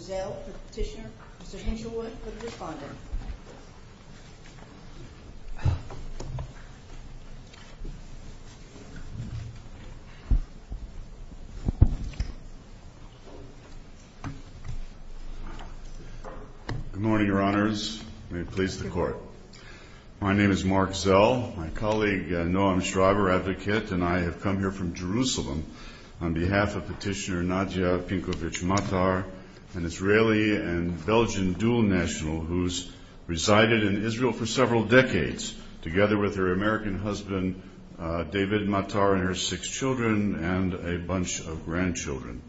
Zell v. Petitioner, Mr. Hinchelwood for the respondent. Good morning, Your Honors. May it please the Court. My name is Mark Zell. My colleague Noam Schreiber, Advocate, and I have come here from Jerusalem on behalf of Petitioner Nadia Pinkovich Matar, an Israeli and Belgian dual national who has resided in Israel for several decades, together with her American husband, David Matar, and her six children and a bunch of grandchildren.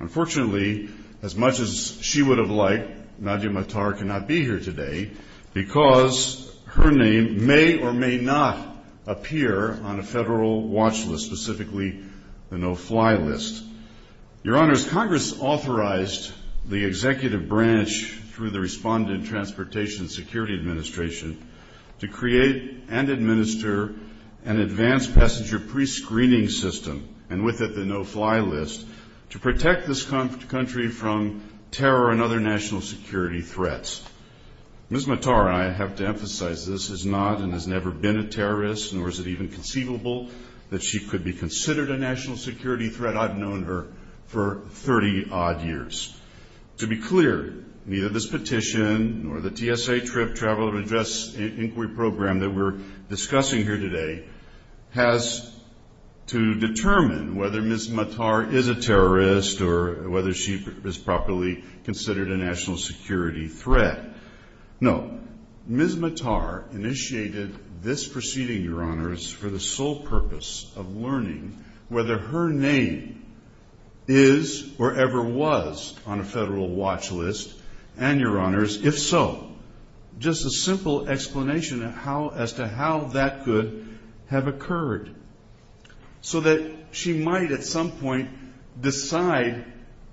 Unfortunately, as much as she would have liked, Nadia Matar cannot be here today because her name may or may not appear on a federal watch list, most specifically the no-fly list. Your Honors, Congress authorized the Executive Branch through the Respondent, Transportation, and Security Administration to create and administer an advanced passenger pre-screening system, and with it the no-fly list, to protect this country from terror and other national security threats. Ms. Matar, and I have to emphasize this, has not and has never been a terrorist, nor is it even conceivable that she could be considered a national security threat. I've known her for 30-odd years. To be clear, neither this petition nor the TSA Trip Travel and Address Inquiry Program that we're discussing here today has to determine whether Ms. Matar is a terrorist or whether she is properly considered a national security threat. No. Ms. Matar initiated this proceeding, Your Honors, for the sole purpose of learning whether her name is or ever was on a federal watch list, and Your Honors, if so, just a simple explanation as to how that could have occurred, so that she might at some point decide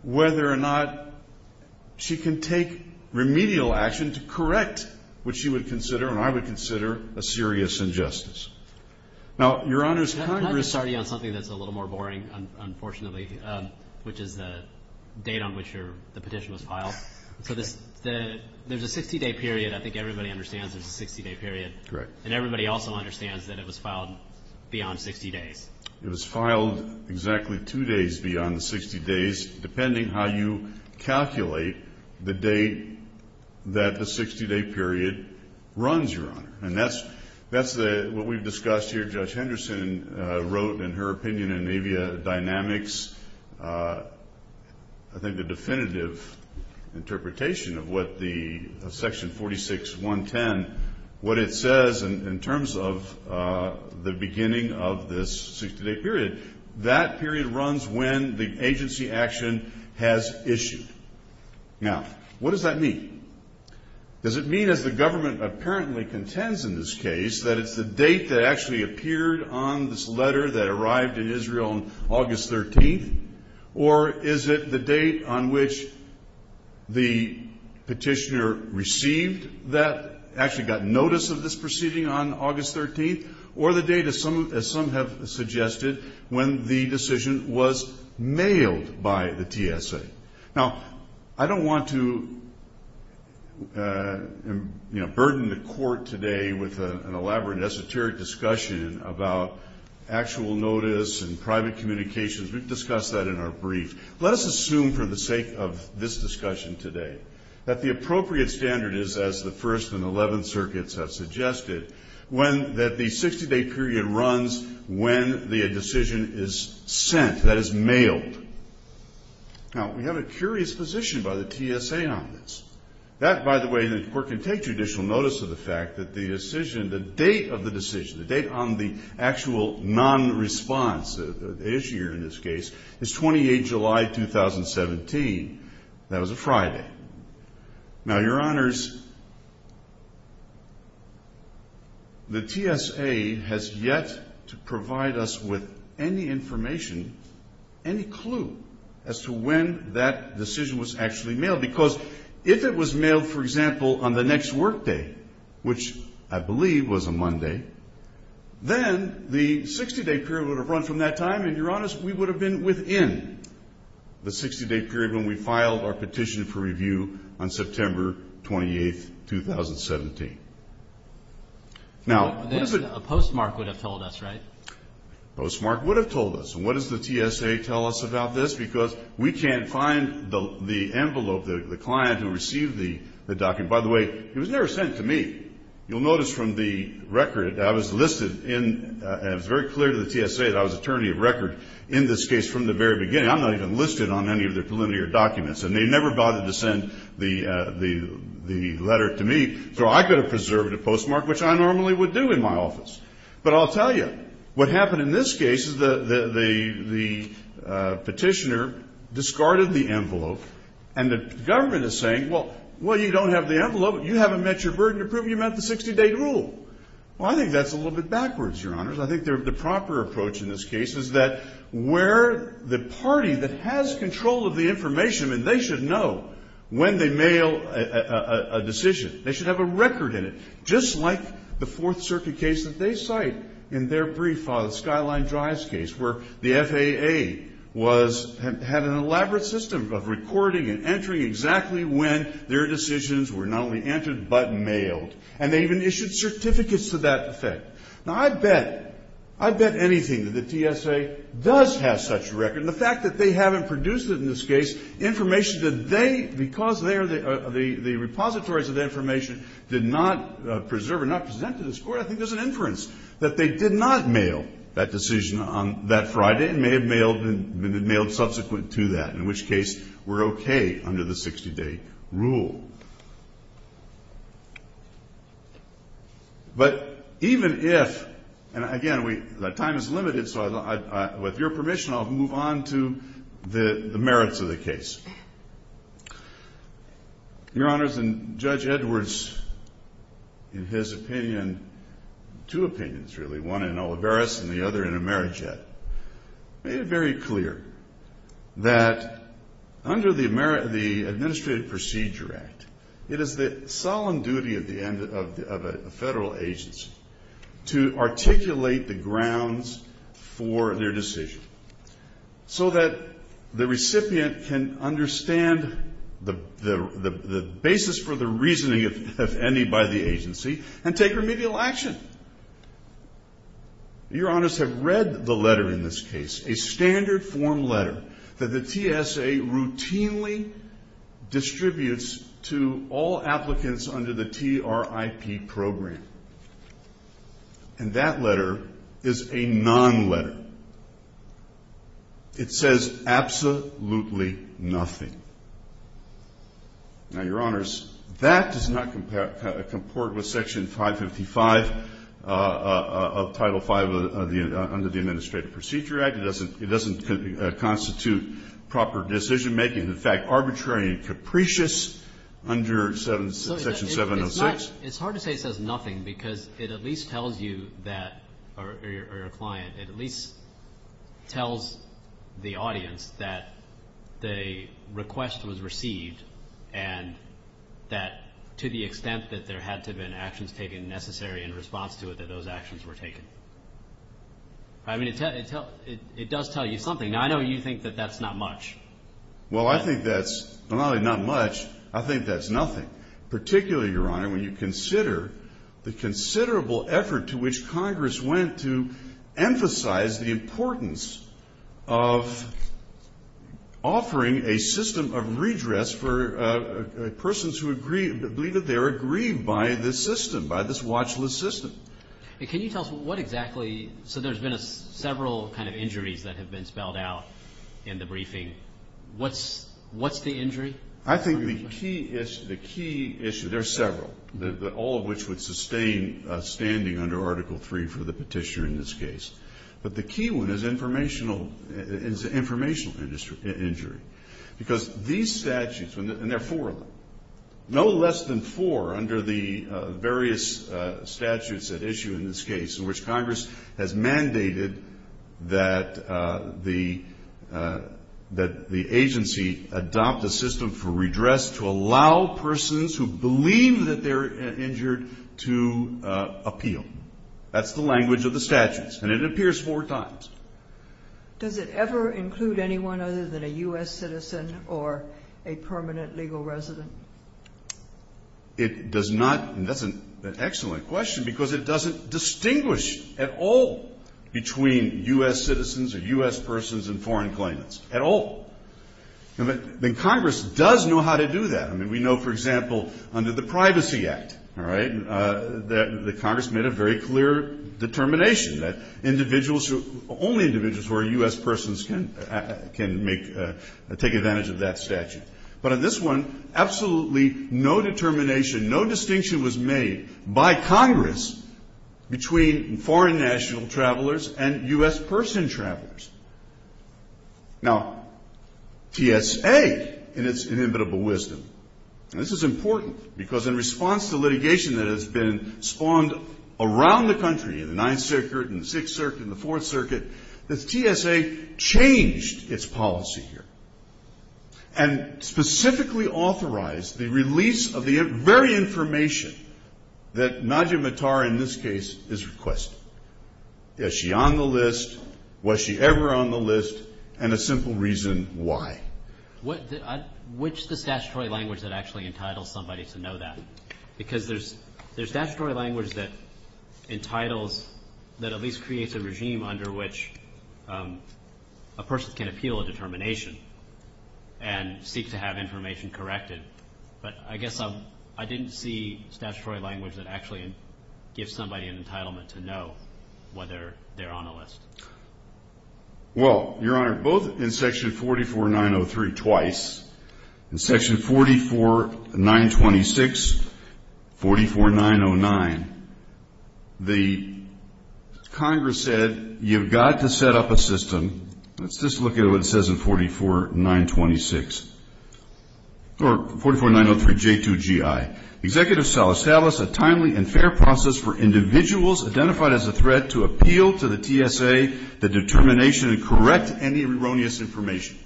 whether or not she can take remedial action to correct what she would consider, and I would consider, a serious injustice. Now, Your Honors, Congress I'm going to start you on something that's a little more boring, unfortunately, which is the date on which the petition was filed. So there's a 60-day period. I think everybody understands there's a 60-day period. Correct. And everybody also understands that it was filed exactly two days beyond the 60 days, depending how you calculate the date that the 60-day period runs, Your Honor. And that's what we've discussed here. Judge Henderson wrote, in her opinion, in Navia Dynamics, I think the definitive interpretation of what the section 46.110, what it says in terms of the beginning of this 60-day period, that period runs when the agency action has issued. Now, what does that mean? Does it mean, as the government apparently contends in this case, that it's the date that actually petitioner received that, actually got notice of this proceeding on August 13th, or the date, as some have suggested, when the decision was mailed by the TSA? Now, I don't want to, you know, burden the Court today with an elaborate, esoteric discussion about actual notice and private communications. We've discussed that in our brief. Let us assume, for the sake of this discussion today, that the appropriate standard is, as the First and Eleventh Circuits have suggested, that the 60-day period runs when the decision is sent, that is, mailed. Now, we have a curious position by the TSA on this. That, by the way, the Court can take judicial notice of the fact that the decision, the date of the decision, the actual non-response, the issuer in this case, is 28 July 2017. That was a Friday. Now, Your Honors, the TSA has yet to provide us with any information, any clue, as to when that decision was actually mailed. Because if it was mailed, for example, on the next workday, which I believe was a Monday, then the 60-day period would have run from that time, and, Your Honors, we would have been within the 60-day period when we filed our petition for review on September 28, 2017. Now, what is it the TSA would have told us? Right? Postmark would have told us. And what does the TSA tell us about this? Because we can't find the envelope, the client who received the document. By the way, it was never sent to me. You'll notice from the record, I was listed in, and it was very clear to the TSA that I was attorney of record in this case from the very beginning. I'm not even listed on any of their preliminary documents. And they never bothered to send the letter to me. So I could have preserved a postmark, which I normally would do in my office. But I'll tell you, what happened in this case is the petitioner discarded the envelope, and the government is saying, well, you don't have the envelope. You haven't met your burden to prove you met the 60-day rule. Well, I think that's a little bit backwards, Your Honors. I think the proper approach in this case is that where the party that has control of the information, and they should know when they mail a decision. They should have a record in it, just like the Fourth Circuit case that they cite in their brief on the Skyline Drives case, where the FAA was, had an elaborate system of recording and entering exactly when their decisions were not only entered but mailed. And they even issued certificates to that effect. Now, I bet, I bet anything that the TSA does have such a record. And the fact that they haven't produced it in this case, information that they, because there, the repositories of the information did not preserve or not present to this Court, I think there's an inference that they did not mail that decision on that Friday and may have mailed subsequent to that, in which case we're okay under the 60-day rule. But even if, and again, we, time is limited, so I, with your permission, I'll move on to the merits of the case. Your Honors, and Judge Edwards, in his opinion, two opinions really, one in Olivares and the other in Emeraget, made it very clear that under the Administrative Procedure Act, it is the solemn duty of the end, of a federal agency to articulate the recipient can understand the basis for the reasoning, if any, by the agency and take remedial action. Your Honors have read the letter in this case, a standard form letter that the TSA routinely distributes to all applicants under the TRIP program. And that letter is a non-letter. It says absolutely nothing. Now, Your Honors, that does not comport with Section 555 of Title V under the Administrative Procedure Act. It doesn't constitute proper decision-making, in fact, arbitrary and capricious under Section 706. It's hard to say it says nothing because it at least tells you that, or your client, it at least tells the audience that the request was received and that, to the extent that there had to have been actions taken necessary in response to it, that those actions were taken. I mean, it does tell you something. Now, I know you think that that's not much. Well, I think that's not only not much, I think that's nothing. Particularly, Your Honor, when you consider the considerable effort to which Congress went to emphasize the importance of offering a system of redress for persons who agree, believe that they are aggrieved by this system, by this watchlist system. And can you tell us what exactly, so there's been several kind of injuries that have been spelled out in the briefing. What's the injury? I think the key issue, there are several, all of which would sustain standing under Article III for the petitioner in this case. But the key one is informational injury. Because these statutes, and there are four of them, no less than four under the various statutes at issue in this case in which Congress has mandated that the agency adopt a system for redress to allow persons who believe that they're injured to appeal. That's the language of the statutes. And it appears four times. Does it ever include anyone other than a U.S. citizen or a permanent legal resident? It does not, and that's an excellent question, because it doesn't distinguish at all between U.S. citizens or U.S. persons and foreign claimants, at all. And Congress does know how to do that. I mean, we know, for example, under the Privacy Act, all right, that Congress made a very clear determination that individuals, only individuals who are U.S. persons can make, take advantage of that statute. But in this one, absolutely no determination, no distinction was made by Congress between foreign national travelers and U.S. person travelers. Now, TSA, in its inimitable wisdom, and this is important, because in response to litigation that has been spawned around the country in the Ninth Circuit and the Sixth Circuit and the Fourth Circuit, the TSA changed its policy here and specifically authorized the release of the very information that Nadia Mattar, in this case, is requesting. Is she on the list? Was she ever on the list? And a simple reason why. Which is the statutory language that actually entitles somebody to know that? Because there's statutory language that entitles, that at least creates a regime under which a person can appeal a determination and seek to have information corrected. But I guess I didn't see statutory language that actually gives somebody an entitlement to know whether they're on the list. Well, Your Honor, both in Section 44903 twice, in Section 44926, 44909, the Congress said you've got to set up a system, let's just look at what it says in 44926, or 44903 J2GI, Executive Salas, a timely and fair process for individuals identified as a threat to appeal to the TSA the determination to correct any erroneous information.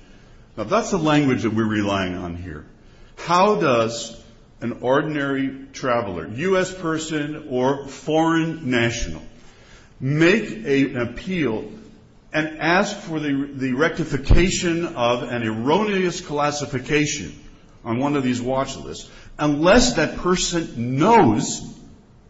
Now, that's the language that we're relying on here. How does an ordinary traveler, U.S. person or foreign national, make a, an appointment to an appeal and ask for the rectification of an erroneous classification on one of these watch lists unless that person knows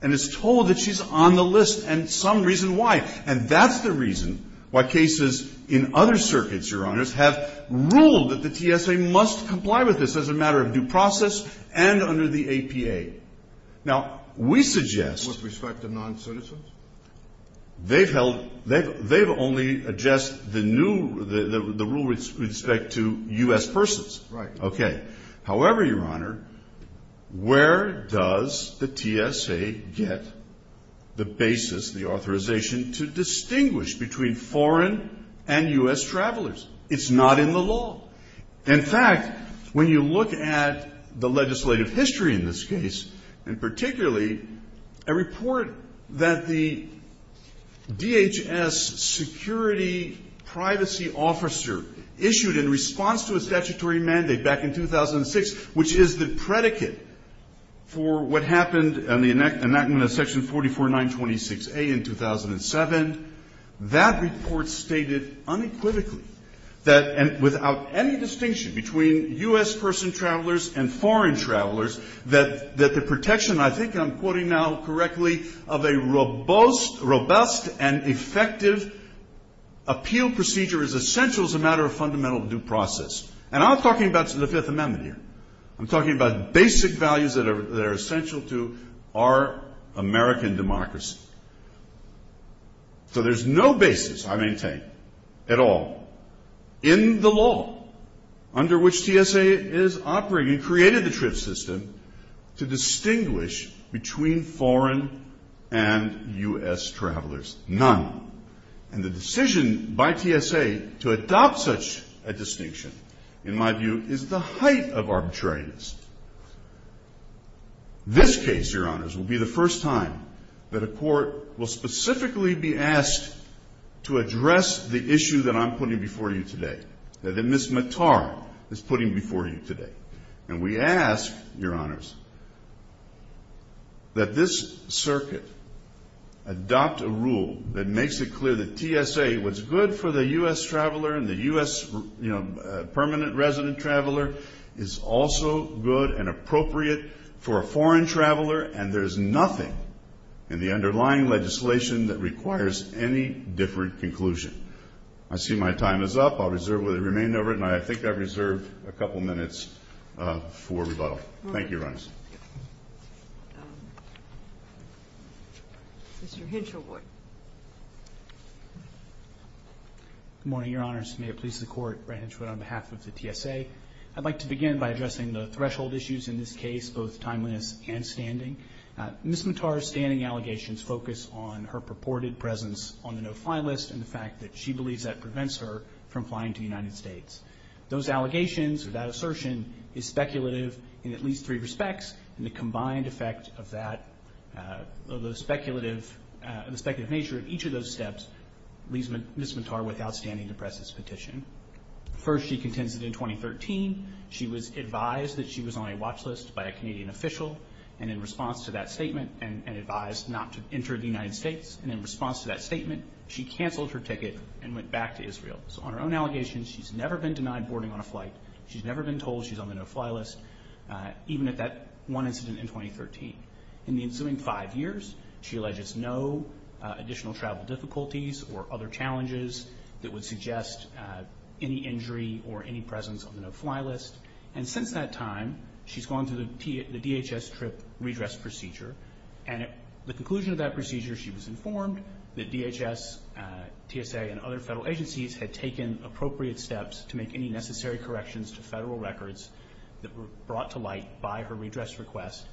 and is told that she's on the list and some reason why? And that's the reason why cases in other circuits, Your Honors, have ruled that the TSA must comply with this as a matter of due process and under the APA. Now, we suggest With respect to non-citizens? They've held, they've, they've only adjust the new, the, the, the rule with respect to U.S. persons. Right. Okay. However, Your Honor, where does the TSA get the basis, the authorization to distinguish between foreign and U.S. travelers? It's not in the law. In fact, when you look at the legislative history in this case, and particularly a report that the DHS security privacy officer issued in response to a statutory mandate back in 2006, which is the predicate for what happened in the enactment of Section 44926A in 2007, that report stated unequivocally that without any distinction between U.S. person travelers and foreign travelers, that, that the protection, I think I'm quoting now correctly, of a robust, robust and effective appeal procedure is essential as a matter of fundamental due process. And I'm talking about the Fifth Amendment here. I'm talking about basic values that are, that are essential to our American democracy. So there's no basis, I maintain, at all, in the law under which TSA is operating and created the TRIPS system to distinguish between foreign and U.S. travelers. None. And the decision by TSA to adopt such a distinction, in my view, is the height of arbitrariness. This case, Your Honors, will be the first time that a court will specifically be asked to address the issue that I'm putting before you today, that Ms. Mattar is putting before you today. And we ask, Your Honors, that this circuit adopt a rule that makes it clear that TSA was good for the U.S. traveler and the U.S., you know, permanent resident traveler is also good and appropriate for a foreign traveler, and there's nothing in the underlying legislation that requires any different conclusion. I see my time is up. I'll reserve where they remain over it, and I think I've reserved a couple of minutes for rebuttal. Thank you, Your Honors. Mr. Hinchelwood. Good morning, Your Honors. May it please the Court, Branchwood, on behalf of the TSA, I'd like to begin by addressing the threshold issues in this case, both timeliness and standing. Ms. Mattar's standing allegations focus on her purported presence on the no-fly list and the fact that she believes that prevents her from flying to the United States. Those allegations or that assertion is speculative in at least three respects, and the combined effect of that, of the speculative nature of each of those steps, leaves Ms. Mattar with outstanding to press this petition. First, she contends that in 2013, she was advised that she was on a watch list by a Canadian official, and in response to that statement and advised not to enter the United States, and in response to that statement, she canceled her ticket and went back to Israel. So on her own allegations, she's never been denied boarding on a flight. She's never been told she's on the no-fly list, even at that one incident in 2013. In the ensuing five years, she alleges no additional travel difficulties or other challenges that would suggest any injury or any presence on the no-fly list, and since that time, she's gone through the DHS trip redress procedure, and at the conclusion of that procedure, she was informed that DHS, TSA, and other federal agencies had taken appropriate steps to make any necessary corrections to federal records that were brought to light by her redress request,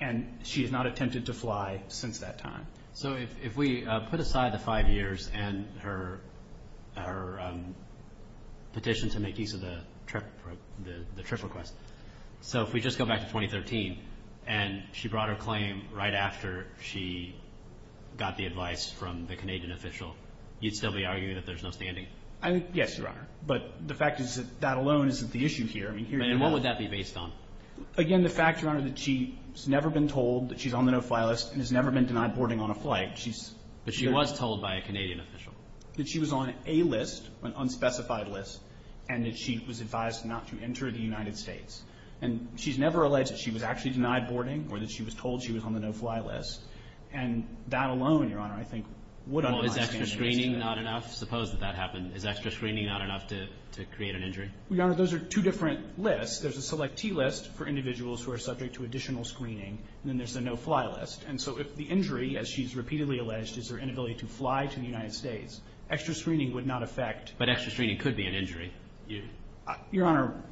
and she has not attempted to fly since that time. So if we put aside the five years and her petition to make use of the trip request, so if we just go back to 2013, and she brought her claim right after she got the advice from the Canadian official, you'd still be arguing that there's no standing? Yes, Your Honor, but the fact is that that alone isn't the issue here. And what would that be based on? Again, the fact, Your Honor, that she's never been told that she's on the no-fly list and has never been denied boarding on a flight. But she was told by a Canadian official. That she was on a list, an unspecified list, and that she was advised not to enter the United States. And she's never alleged that she was actually denied boarding or that she was told she was on the no-fly list, and that alone, Your Honor, I think would undermine standing. Well, is extra screening not enough? Suppose that that happened. Is extra screening not enough to create an injury? Well, Your Honor, those are two different lists. There's a selectee list for individuals who are subject to additional screening, and then there's the no-fly list. And so if the injury, as she's repeatedly alleged, is her inability to fly to the United States, extra screening would not affect. But extra screening could be an injury. Your Honor,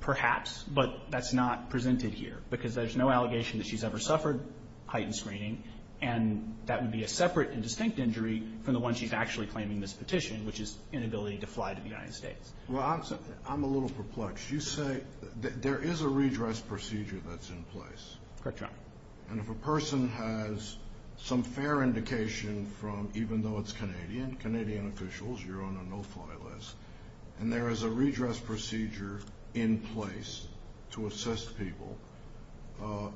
perhaps, but that's not presented here, because there's no allegation that she's ever suffered heightened screening, and that would be a separate and distinct injury from the one she's actually claiming in this petition, which is inability to fly to the United States. Well, I'm a little perplexed. You say there is a redress procedure that's in place. Correct, Your Honor. And if a person has some fair indication from, even though it's Canadian, Canadian officials, you're on a no-fly list, and there is a redress procedure in place to assist people,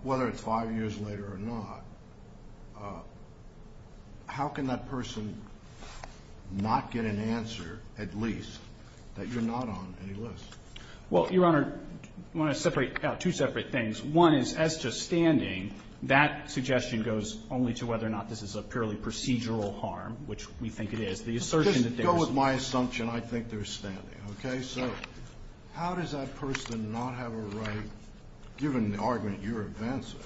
whether it's five years later or not, how can that person not get an answer, at least, that you're not on any list? Well, Your Honor, I want to separate out two separate things. One is, as to standing, that suggestion goes only to whether or not this is a purely procedural harm, which we think it is. The assertion that there is... Just go with my assumption. I think there's standing. Okay? So how does that person not have a right, given the argument you're advancing,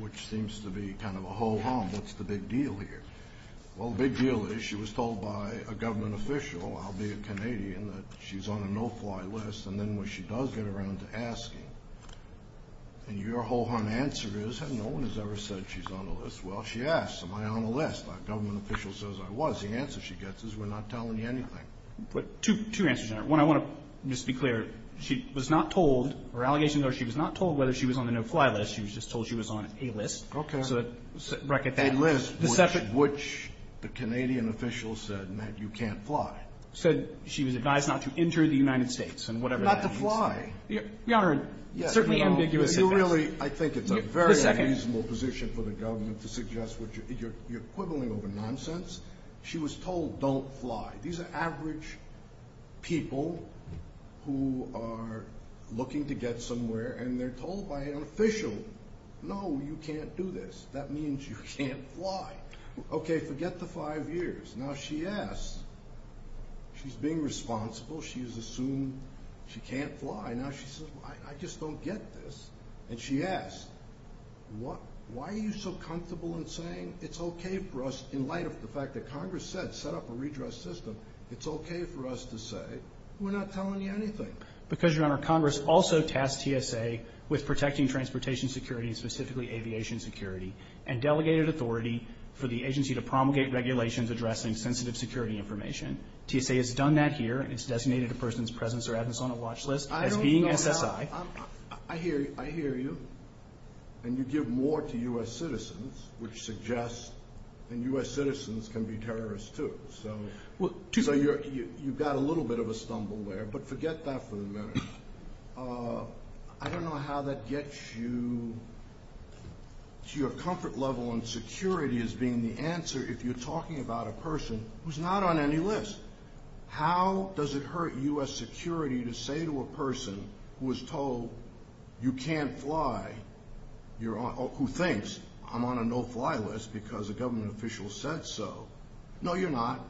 which seems to be kind of a ho-hum, what's the big deal here? Well, the big deal is she was told by a government official, albeit Canadian, that she's on a no-fly list. And then when she does get around to asking, and your ho-hum answer is, no one has ever said she's on a list. Well, she asks, am I on a list? That government official says I was. The answer she gets is, we're not telling you anything. Two answers, Your Honor. One, I want to just be clear, she was not told, or allegations are, she was not told whether she was on a no-fly list. She was just told she was on a list. Okay. A list, which the Canadian official said meant you can't fly. Said she was advised not to enter the United States, and whatever that means. Not to fly. Your Honor, certainly ambiguous advice. You know, you really, I think it's a very unreasonable position for the government to suggest what you're, you're quibbling over nonsense. She was told, don't fly. These are average people who are looking to get somewhere, and they're told by an official, no, you can't do this. That means you can't fly. Well, the answer she gets is, no, you can't fly. Okay, forget the five years. Now, she asks, am I on a list? She's being responsible. She's assumed she can't fly. Now, she says, I just don't get this. And she asks, why are you so comfortable in saying it's okay for us, in light of the fact that Congress said, set up a redress system, it's okay for us to say, we're not telling you anything? Because, Your Honor, Congress also tasked TSA with protecting transportation security, and specifically aviation security, and delegated authority for the agency to promulgate regulations addressing sensitive security information. TSA has done that here, and it's designated a person's presence or absence on a watch list as being SSI. I don't know. I hear you. I hear you. And you give more to U.S. citizens, which suggests that U.S. citizens can be terrorists, too. So, you've got a little bit of a stumble there, but forget that for the minute. I don't know how that gets you to your comfort level in security as being the answer if you're talking about a person who's not on any list. How does it hurt U.S. security to say to a person who was told, you can't fly, who thinks, I'm on a no-fly list because a government official said so, no, you're not.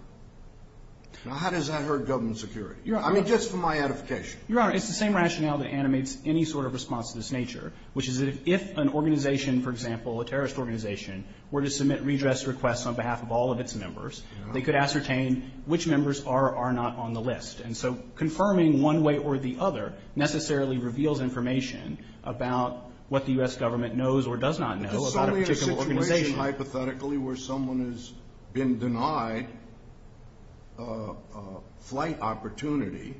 Now, how does that hurt government security? I mean, just for my edification. Your Honor, it's the same rationale that animates any sort of response of this nature, which is that if an organization, for example, a terrorist organization, were to submit redress requests on behalf of all of its members, they could ascertain which members are or are not on the list. And so, confirming one way or the other necessarily reveals information about what the U.S. government knows or does not know about a particular organization. It's only a situation, hypothetically, where someone has been denied a flight opportunity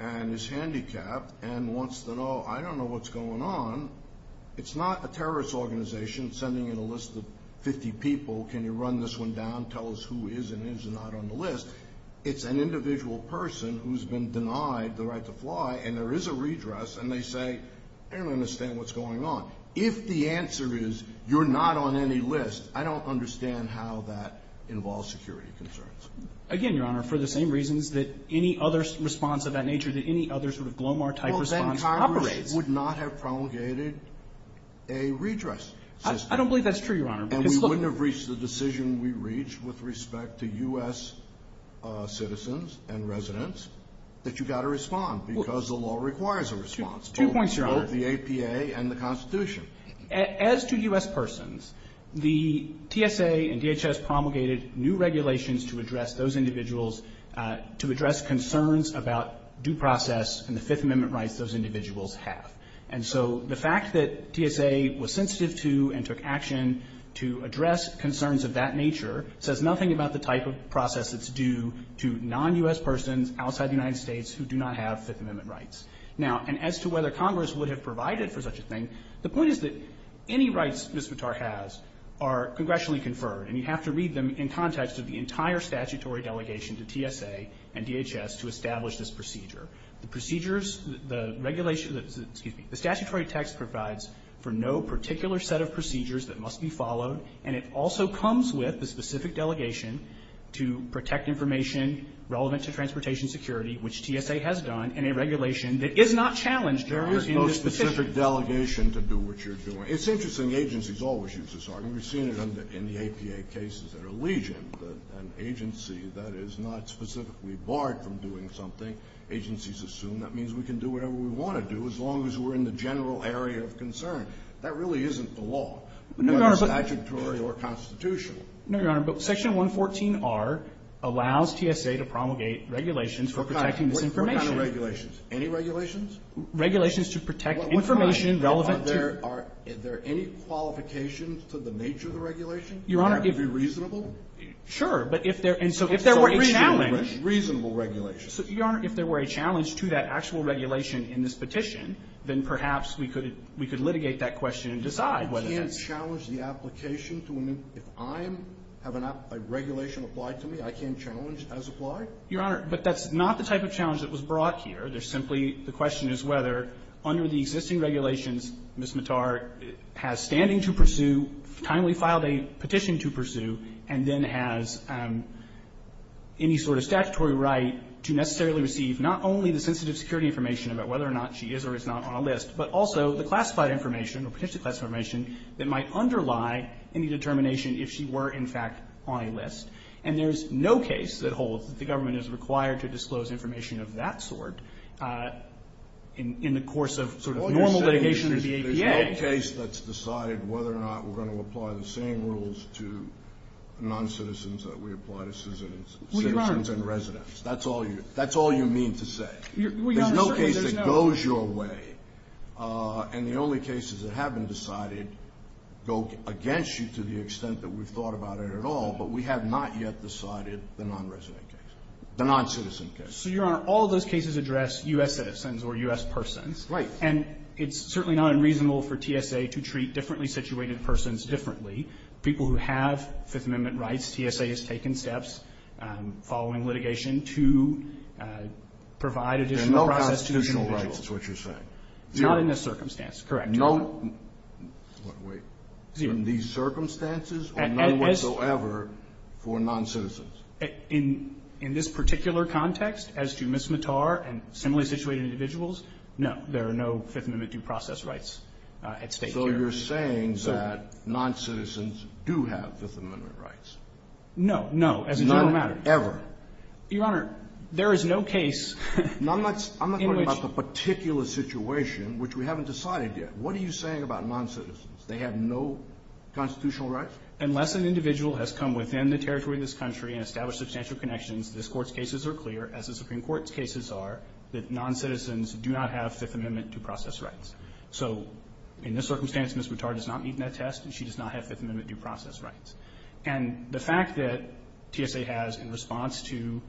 and is handicapped and wants to know, I don't know what's going on. It's not a terrorist organization sending in a list of 50 people, can you run this one down, tell us who is and is not on the list. It's an individual person who's been denied the right to fly, and there is a redress, and they say, I don't understand what's going on. If the answer is, you're not on any list, I don't understand how that involves security concerns. Again, Your Honor, for the same reasons that any other response of that nature, that any other sort of GLOMAR-type response operates. It would not have promulgated a redress system. I don't believe that's true, Your Honor. And we wouldn't have reached the decision we reached with respect to U.S. citizens and residents that you've got to respond because the law requires a response. Two points, Your Honor. Both the APA and the Constitution. As to U.S. persons, the TSA and DHS promulgated new regulations to address those individuals to address concerns about due process and the Fifth Amendment rights those individuals have. And so the fact that TSA was sensitive to and took action to address concerns of that nature says nothing about the type of process that's due to non-U.S. persons outside the United States who do not have Fifth Amendment rights. Now, and as to whether Congress would have provided for such a thing, the point is that any rights Ms. Vitar has are congressionally conferred, and you have to read them in TSA and DHS to establish this procedure. The procedures, the regulation, excuse me, the statutory text provides for no particular set of procedures that must be followed, and it also comes with a specific delegation to protect information relevant to transportation security, which TSA has done, and a regulation that is not challenged, Your Honor, in this position. It's not a specific delegation to do what you're doing. It's interesting. Agencies always use this argument. We've seen it in the APA cases that are legion, an agency that is not specifically barred from doing something. Agencies assume that means we can do whatever we want to do as long as we're in the general area of concern. That really isn't the law. It's not statutory or constitutional. No, Your Honor, but Section 114R allows TSA to promulgate regulations for protecting this information. What kind of regulations? Any regulations? Regulations to protect information relevant to the nature of transportation security. That would be reasonable? Sure. But if there were a challenge. Reasonable regulations. Your Honor, if there were a challenge to that actual regulation in this petition, then perhaps we could litigate that question and decide whether that's true. You can't challenge the application to a new one. If I have a regulation applied to me, I can't challenge as applied? Your Honor, but that's not the type of challenge that was brought here. There's simply the question is whether under the existing regulations, Ms. Mattar has standing to pursue, timely filed a petition to pursue, and then has any sort of statutory right to necessarily receive not only the sensitive security information about whether or not she is or is not on a list, but also the classified information or petitioned classified information that might underlie any determination if she were, in fact, on a list. And there's no case that holds that the government is required to disclose information of that sort in the course of sort of normal litigation or BAPA. So there's no case that's decided whether or not we're going to apply the same rules to noncitizens that we apply to citizens and residents. Well, Your Honor. That's all you mean to say. Well, Your Honor, certainly there's no. There's no case that goes your way. And the only cases that have been decided go against you to the extent that we've thought about it at all, but we have not yet decided the nonresident case, the noncitizen case. So, Your Honor, all of those cases address U.S. citizens or U.S. persons. Right. And it's certainly not unreasonable for TSA to treat differently situated persons differently. People who have Fifth Amendment rights, TSA has taken steps following litigation to provide additional process to those individuals. There are no constitutional rights is what you're saying. Zero. Not in this circumstance. Correct, Your Honor. No. Wait. Zero. In these circumstances or no whatsoever for noncitizens? In this particular context, as to Ms. Mattar and similarly situated individuals, no. There are no Fifth Amendment due process rights at stake here. So you're saying that noncitizens do have Fifth Amendment rights? No. No, as a general matter. Not ever. Your Honor, there is no case in which No, I'm not talking about the particular situation, which we haven't decided yet. What are you saying about noncitizens? They have no constitutional rights? Unless an individual has come within the territory of this country and established substantial connections, this Court's cases are clear, as the Supreme Court's cases are, that noncitizens do not have Fifth Amendment due process rights. So in this circumstance, Ms. Mattar does not meet that test. She does not have Fifth Amendment due process rights. And the fact that TSA has, in response to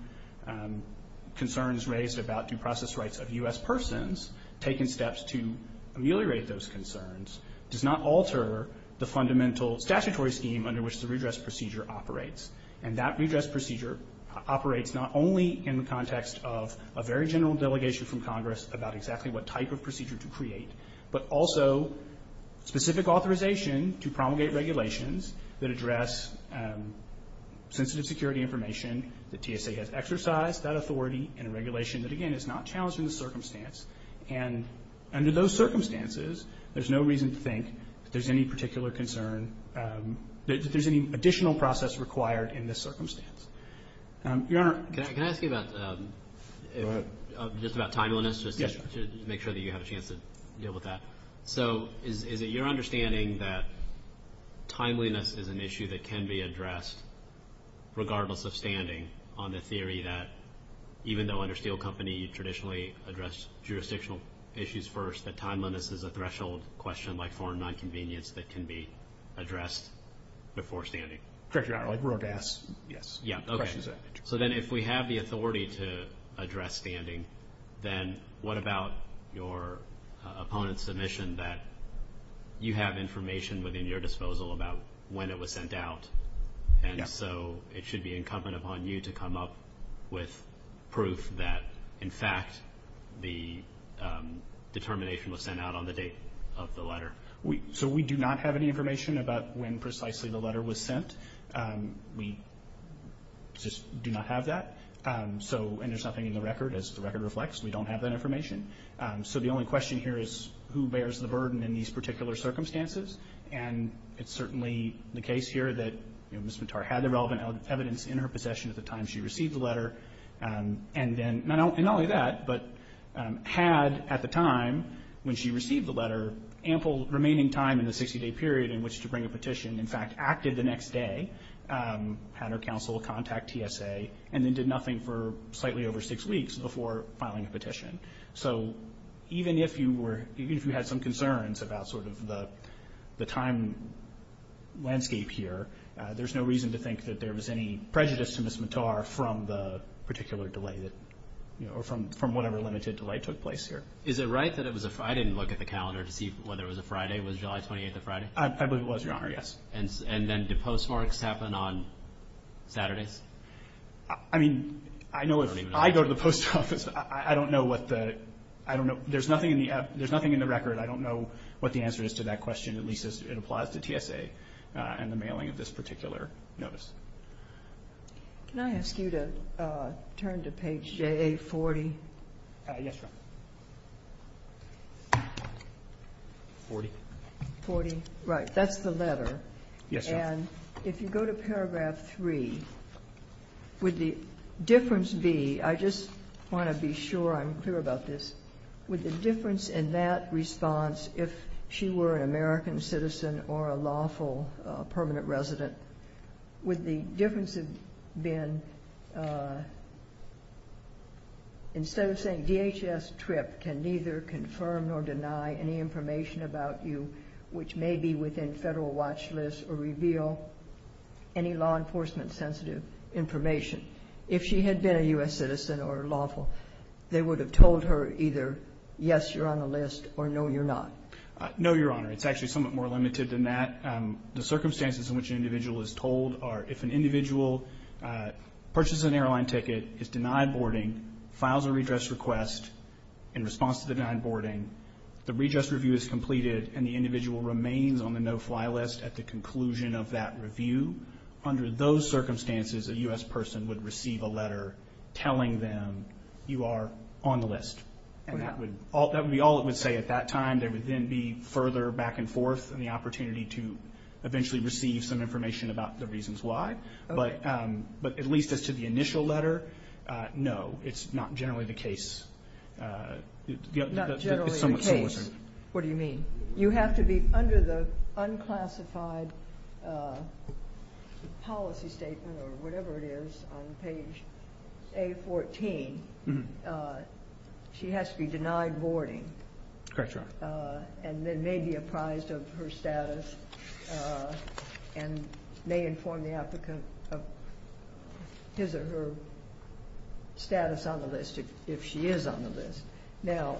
concerns raised about due process rights of U.S. persons, taken steps to ameliorate those concerns, does not alter the fundamental statutory scheme under which the redress procedure operates. And that redress procedure operates not only in the context of a very general delegation from Congress about exactly what type of procedure to create, but also specific authorization to promulgate regulations that address sensitive security information, that TSA has exercised that authority in a regulation that, again, is not challenged in the circumstance. And under those circumstances, there's no reason to think that there's any additional process required in this circumstance. Your Honor. Can I ask you about just about timeliness, just to make sure that you have a chance to deal with that? So is it your understanding that timeliness is an issue that can be addressed regardless of standing on the theory that even though under Steele Company you traditionally address jurisdictional issues first, that timeliness is a threshold question like foreign nonconvenience that can be addressed before standing? Correct, Your Honor. Like, we're going to ask, yes. Yeah, okay. So then if we have the authority to address standing, then what about your opponent's submission that you have information within your disposal about when it was sent out? And so it should be incumbent upon you to come up with proof that, in fact, the determination was sent out on the date of the letter. So we do not have any information about when precisely the letter was sent. We just do not have that. And there's nothing in the record. As the record reflects, we don't have that information. So the only question here is who bears the burden in these particular circumstances. And it's certainly the case here that Ms. Vitar had the relevant evidence in her possession at the time she received the letter. And not only that, but had at the time when she received the letter ample remaining time in the 60-day period in which to bring a petition, in fact, acted the next day, had her counsel contact TSA, and then did nothing for slightly over six weeks before filing a petition. So even if you had some concerns about sort of the time landscape here, there's no reason to think that there was any prejudice to Ms. Vitar from the particular delay or from whatever limited delay took place here. Is it right that it was a Friday and look at the calendar to see whether it was a Friday? Was July 28 a Friday? I believe it was, Your Honor, yes. And then do postmarks happen on Saturdays? I mean, I know if I go to the post office, I don't know what the – I don't know. There's nothing in the record. I don't know what the answer is to that question, at least as it applies to TSA and the mailing of this particular notice. Can I ask you to turn to page JA40? Yes, Your Honor. 40? 40. Right. That's the letter. Yes, Your Honor. And if you go to paragraph 3, would the difference be – I just want to be sure I'm clear about this. Would the difference in that response, if she were an American citizen or a lawful permanent resident, would the difference have been instead of saying, DHS TRIP can neither confirm nor deny any information about you, which may be within federal watch lists or reveal any law enforcement-sensitive information. If she had been a U.S. citizen or lawful, they would have told her either, yes, you're on the list, or no, you're not. No, Your Honor. It's actually somewhat more limited than that. The circumstances in which an individual is told are if an individual purchases an airline ticket, is denied boarding, files a redress request in response to the denied boarding, the redress review is completed, and the individual remains on the no-fly list at the conclusion of that review, under those circumstances a U.S. person would receive a letter telling them you are on the list. And that would be all it would say at that time. There would then be further back and forth and the opportunity to eventually receive some information about the reasons why. But at least as to the initial letter, no, it's not generally the case. Not generally the case. It's somewhat similar. What do you mean? You have to be under the unclassified policy statement or whatever it is on page A14. She has to be denied boarding. Correct, Your Honor. And then may be apprised of her status and may inform the applicant of his or her status on the list if she is on the list. Now,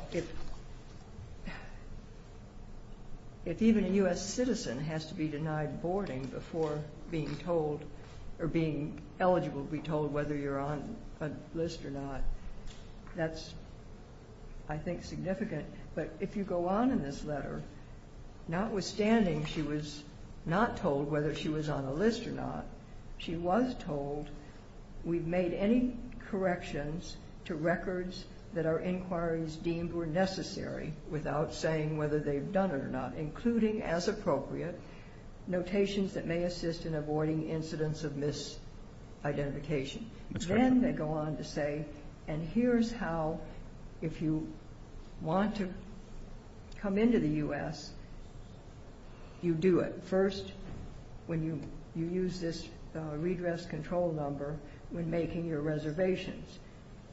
if even a U.S. citizen has to be denied boarding before being told or being eligible to be told whether you're on a list or not, that's, I think, significant. But if you go on in this letter, notwithstanding she was not told whether she was on a list or not, she was told we've made any corrections to records that our inquiries deemed were necessary without saying whether they've done it or not, including, as appropriate, notations that may assist in avoiding incidents of misidentification. Then they go on to say, and here's how, if you want to come into the U.S., you do it. First, when you use this redress control number when making your reservations.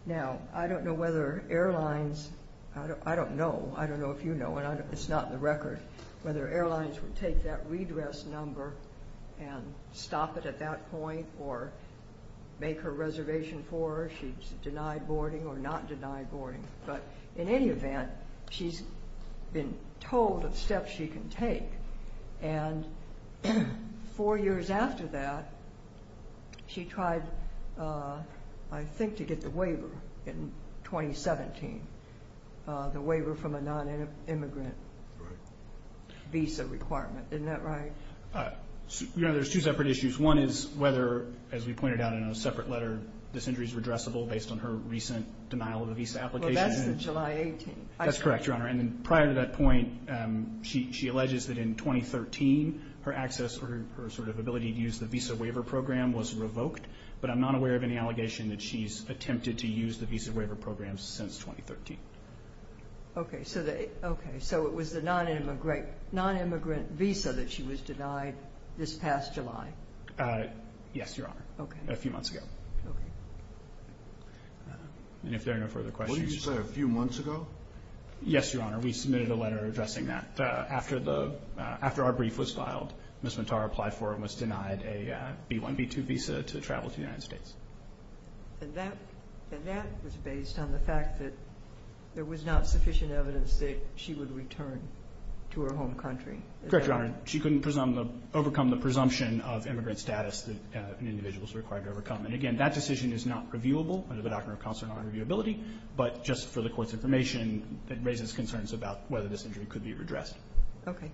Now, I don't know whether airlines, I don't know, I don't know if you know, and it's not in the record, whether airlines would take that redress number and stop it at that point or make her reservation for her. She's denied boarding or not denied boarding. But in any event, she's been told of steps she can take. And four years after that, she tried, I think, to get the waiver in 2017, the waiver from a nonimmigrant visa requirement. Isn't that right? You know, there's two separate issues. One is whether, as we pointed out in a separate letter, this injury is redressable based on her recent denial of a visa application. Well, that's the July 18th. That's correct, Your Honor. And prior to that point, she alleges that in 2013 her access or her sort of ability to use the visa waiver program was revoked. But I'm not aware of any allegation that she's attempted to use the visa waiver program since 2013. Okay. So it was the nonimmigrant visa that she was denied this past July. Yes, Your Honor. Okay. A few months ago. Okay. And if there are no further questions. What did you say? A few months ago? Yes, Your Honor. We submitted a letter addressing that. After our brief was filed, Ms. Matar applied for and was denied a B-1, B-2 visa to travel to the United States. And that was based on the fact that there was not sufficient evidence that she would return to her home country. Correct, Your Honor. She couldn't overcome the presumption of immigrant status that an individual is required to overcome. And, again, that decision is not reviewable under the Doctrine of Consular Nonreviewability, but just for the Court's information, it raises concerns about whether this injury could be redressed. Okay.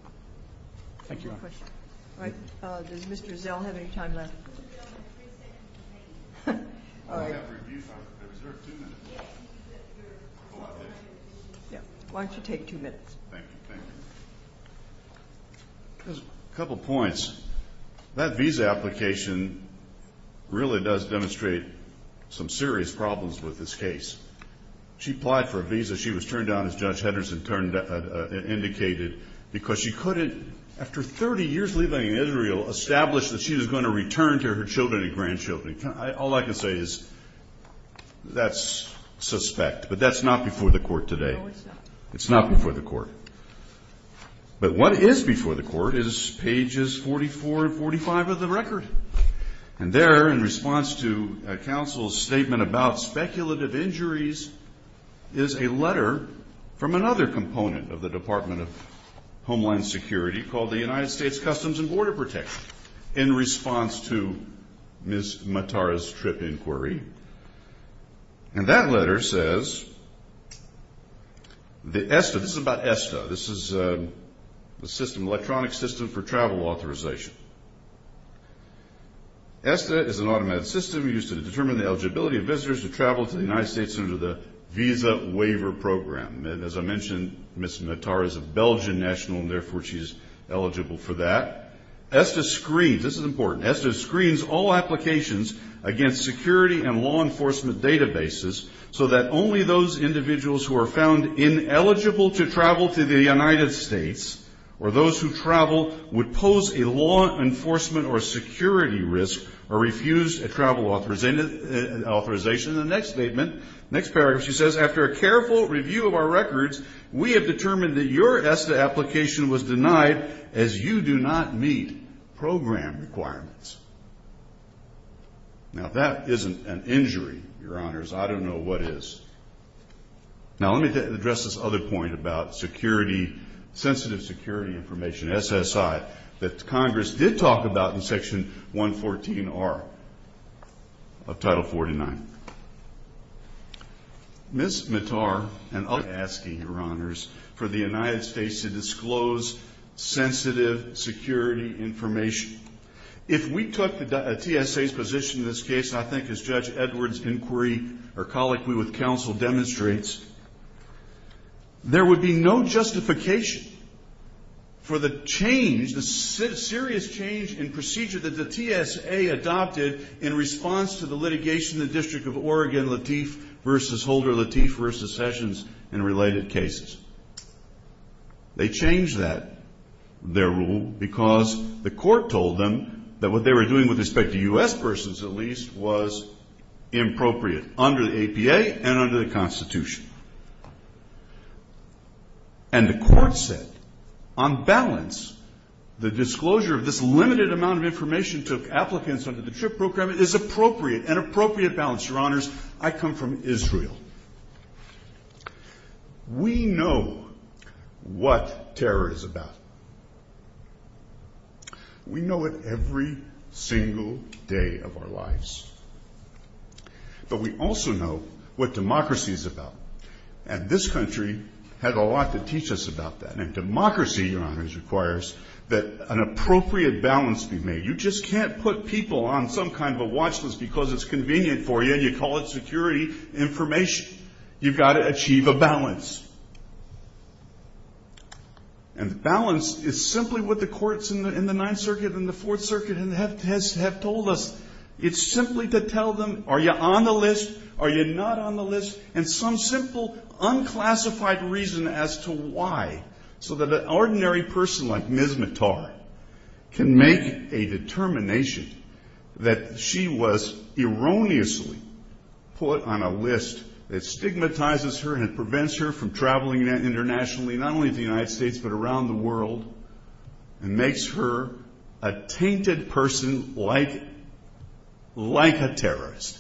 Thank you, Your Honor. All right. Does Mr. Zell have any time left? Mr. Zell has three seconds remaining. All right. I have reviews. I reserve two minutes. Why don't you take two minutes? Thank you. Thank you. A couple points. That visa application really does demonstrate some serious problems with this case. She applied for a visa. that she was going to return to her children and grandchildren. All I can say is that's suspect, but that's not before the Court today. It's not before the Court. But what is before the Court is pages 44 and 45 of the record. And there, in response to counsel's statement about speculative injuries, is a letter from another component of the Department of Homeland Security called the United States Customs and Border Protection, in response to Ms. Mattara's trip inquiry. And that letter says that ESTA, this is about ESTA, this is the electronic system for travel authorization. ESTA is an automatic system used to determine the eligibility of visitors to travel to the United States under the Visa Waiver Program. And as I mentioned, Ms. Mattara is a Belgian national, and therefore she's eligible for that. ESTA screens, this is important, ESTA screens all applications against security and law enforcement databases so that only those individuals who are found ineligible to travel to the United States or those who travel would pose a law enforcement or security risk or refused a travel authorization. In the next statement, next paragraph, she says, after a careful review of our records, we have determined that your ESTA application was denied as you do not meet program requirements. Now, that isn't an injury, Your Honors. I don't know what is. Now, let me address this other point about security, sensitive security information, SSI, that Congress did talk about in Section 114R of Title 49. Ms. Mattara and others are asking, Your Honors, for the United States to disclose sensitive security information. If we took the TSA's position in this case, I think as Judge Edwards' inquiry or colloquy with counsel demonstrates, there would be no justification for the change, the serious change in procedure that the TSA adopted in response to the litigation in the District of Oregon, Lateef v. Holder, Lateef v. Sessions, and related cases. They changed that, their rule, because the court told them that what they were doing with respect to U.S. persons, at least, was inappropriate under the APA and under the Constitution. And the court said, on balance, the disclosure of this limited amount of information to applicants under the TRIP Program is appropriate, an appropriate balance. Your Honors, I come from Israel. We know what terror is about. We know it every single day of our lives. But we also know what democracy is about. And this country had a lot to teach us about that. And democracy, Your Honors, requires that an appropriate balance be made. You just can't put people on some kind of a watch list because it's convenient for you and you call it security information. You've got to achieve a balance. And the balance is simply what the courts in the Ninth Circuit and the Fourth Circuit have told us. It's simply to tell them, are you on the list, are you not on the list, and some simple, unclassified reason as to why, so that an ordinary person like Ms. Mattar can make a determination that she was erroneously put on a list that stigmatizes her and prevents her from traveling internationally, not only to the United States but around the world, and makes her a tainted person like a terrorist.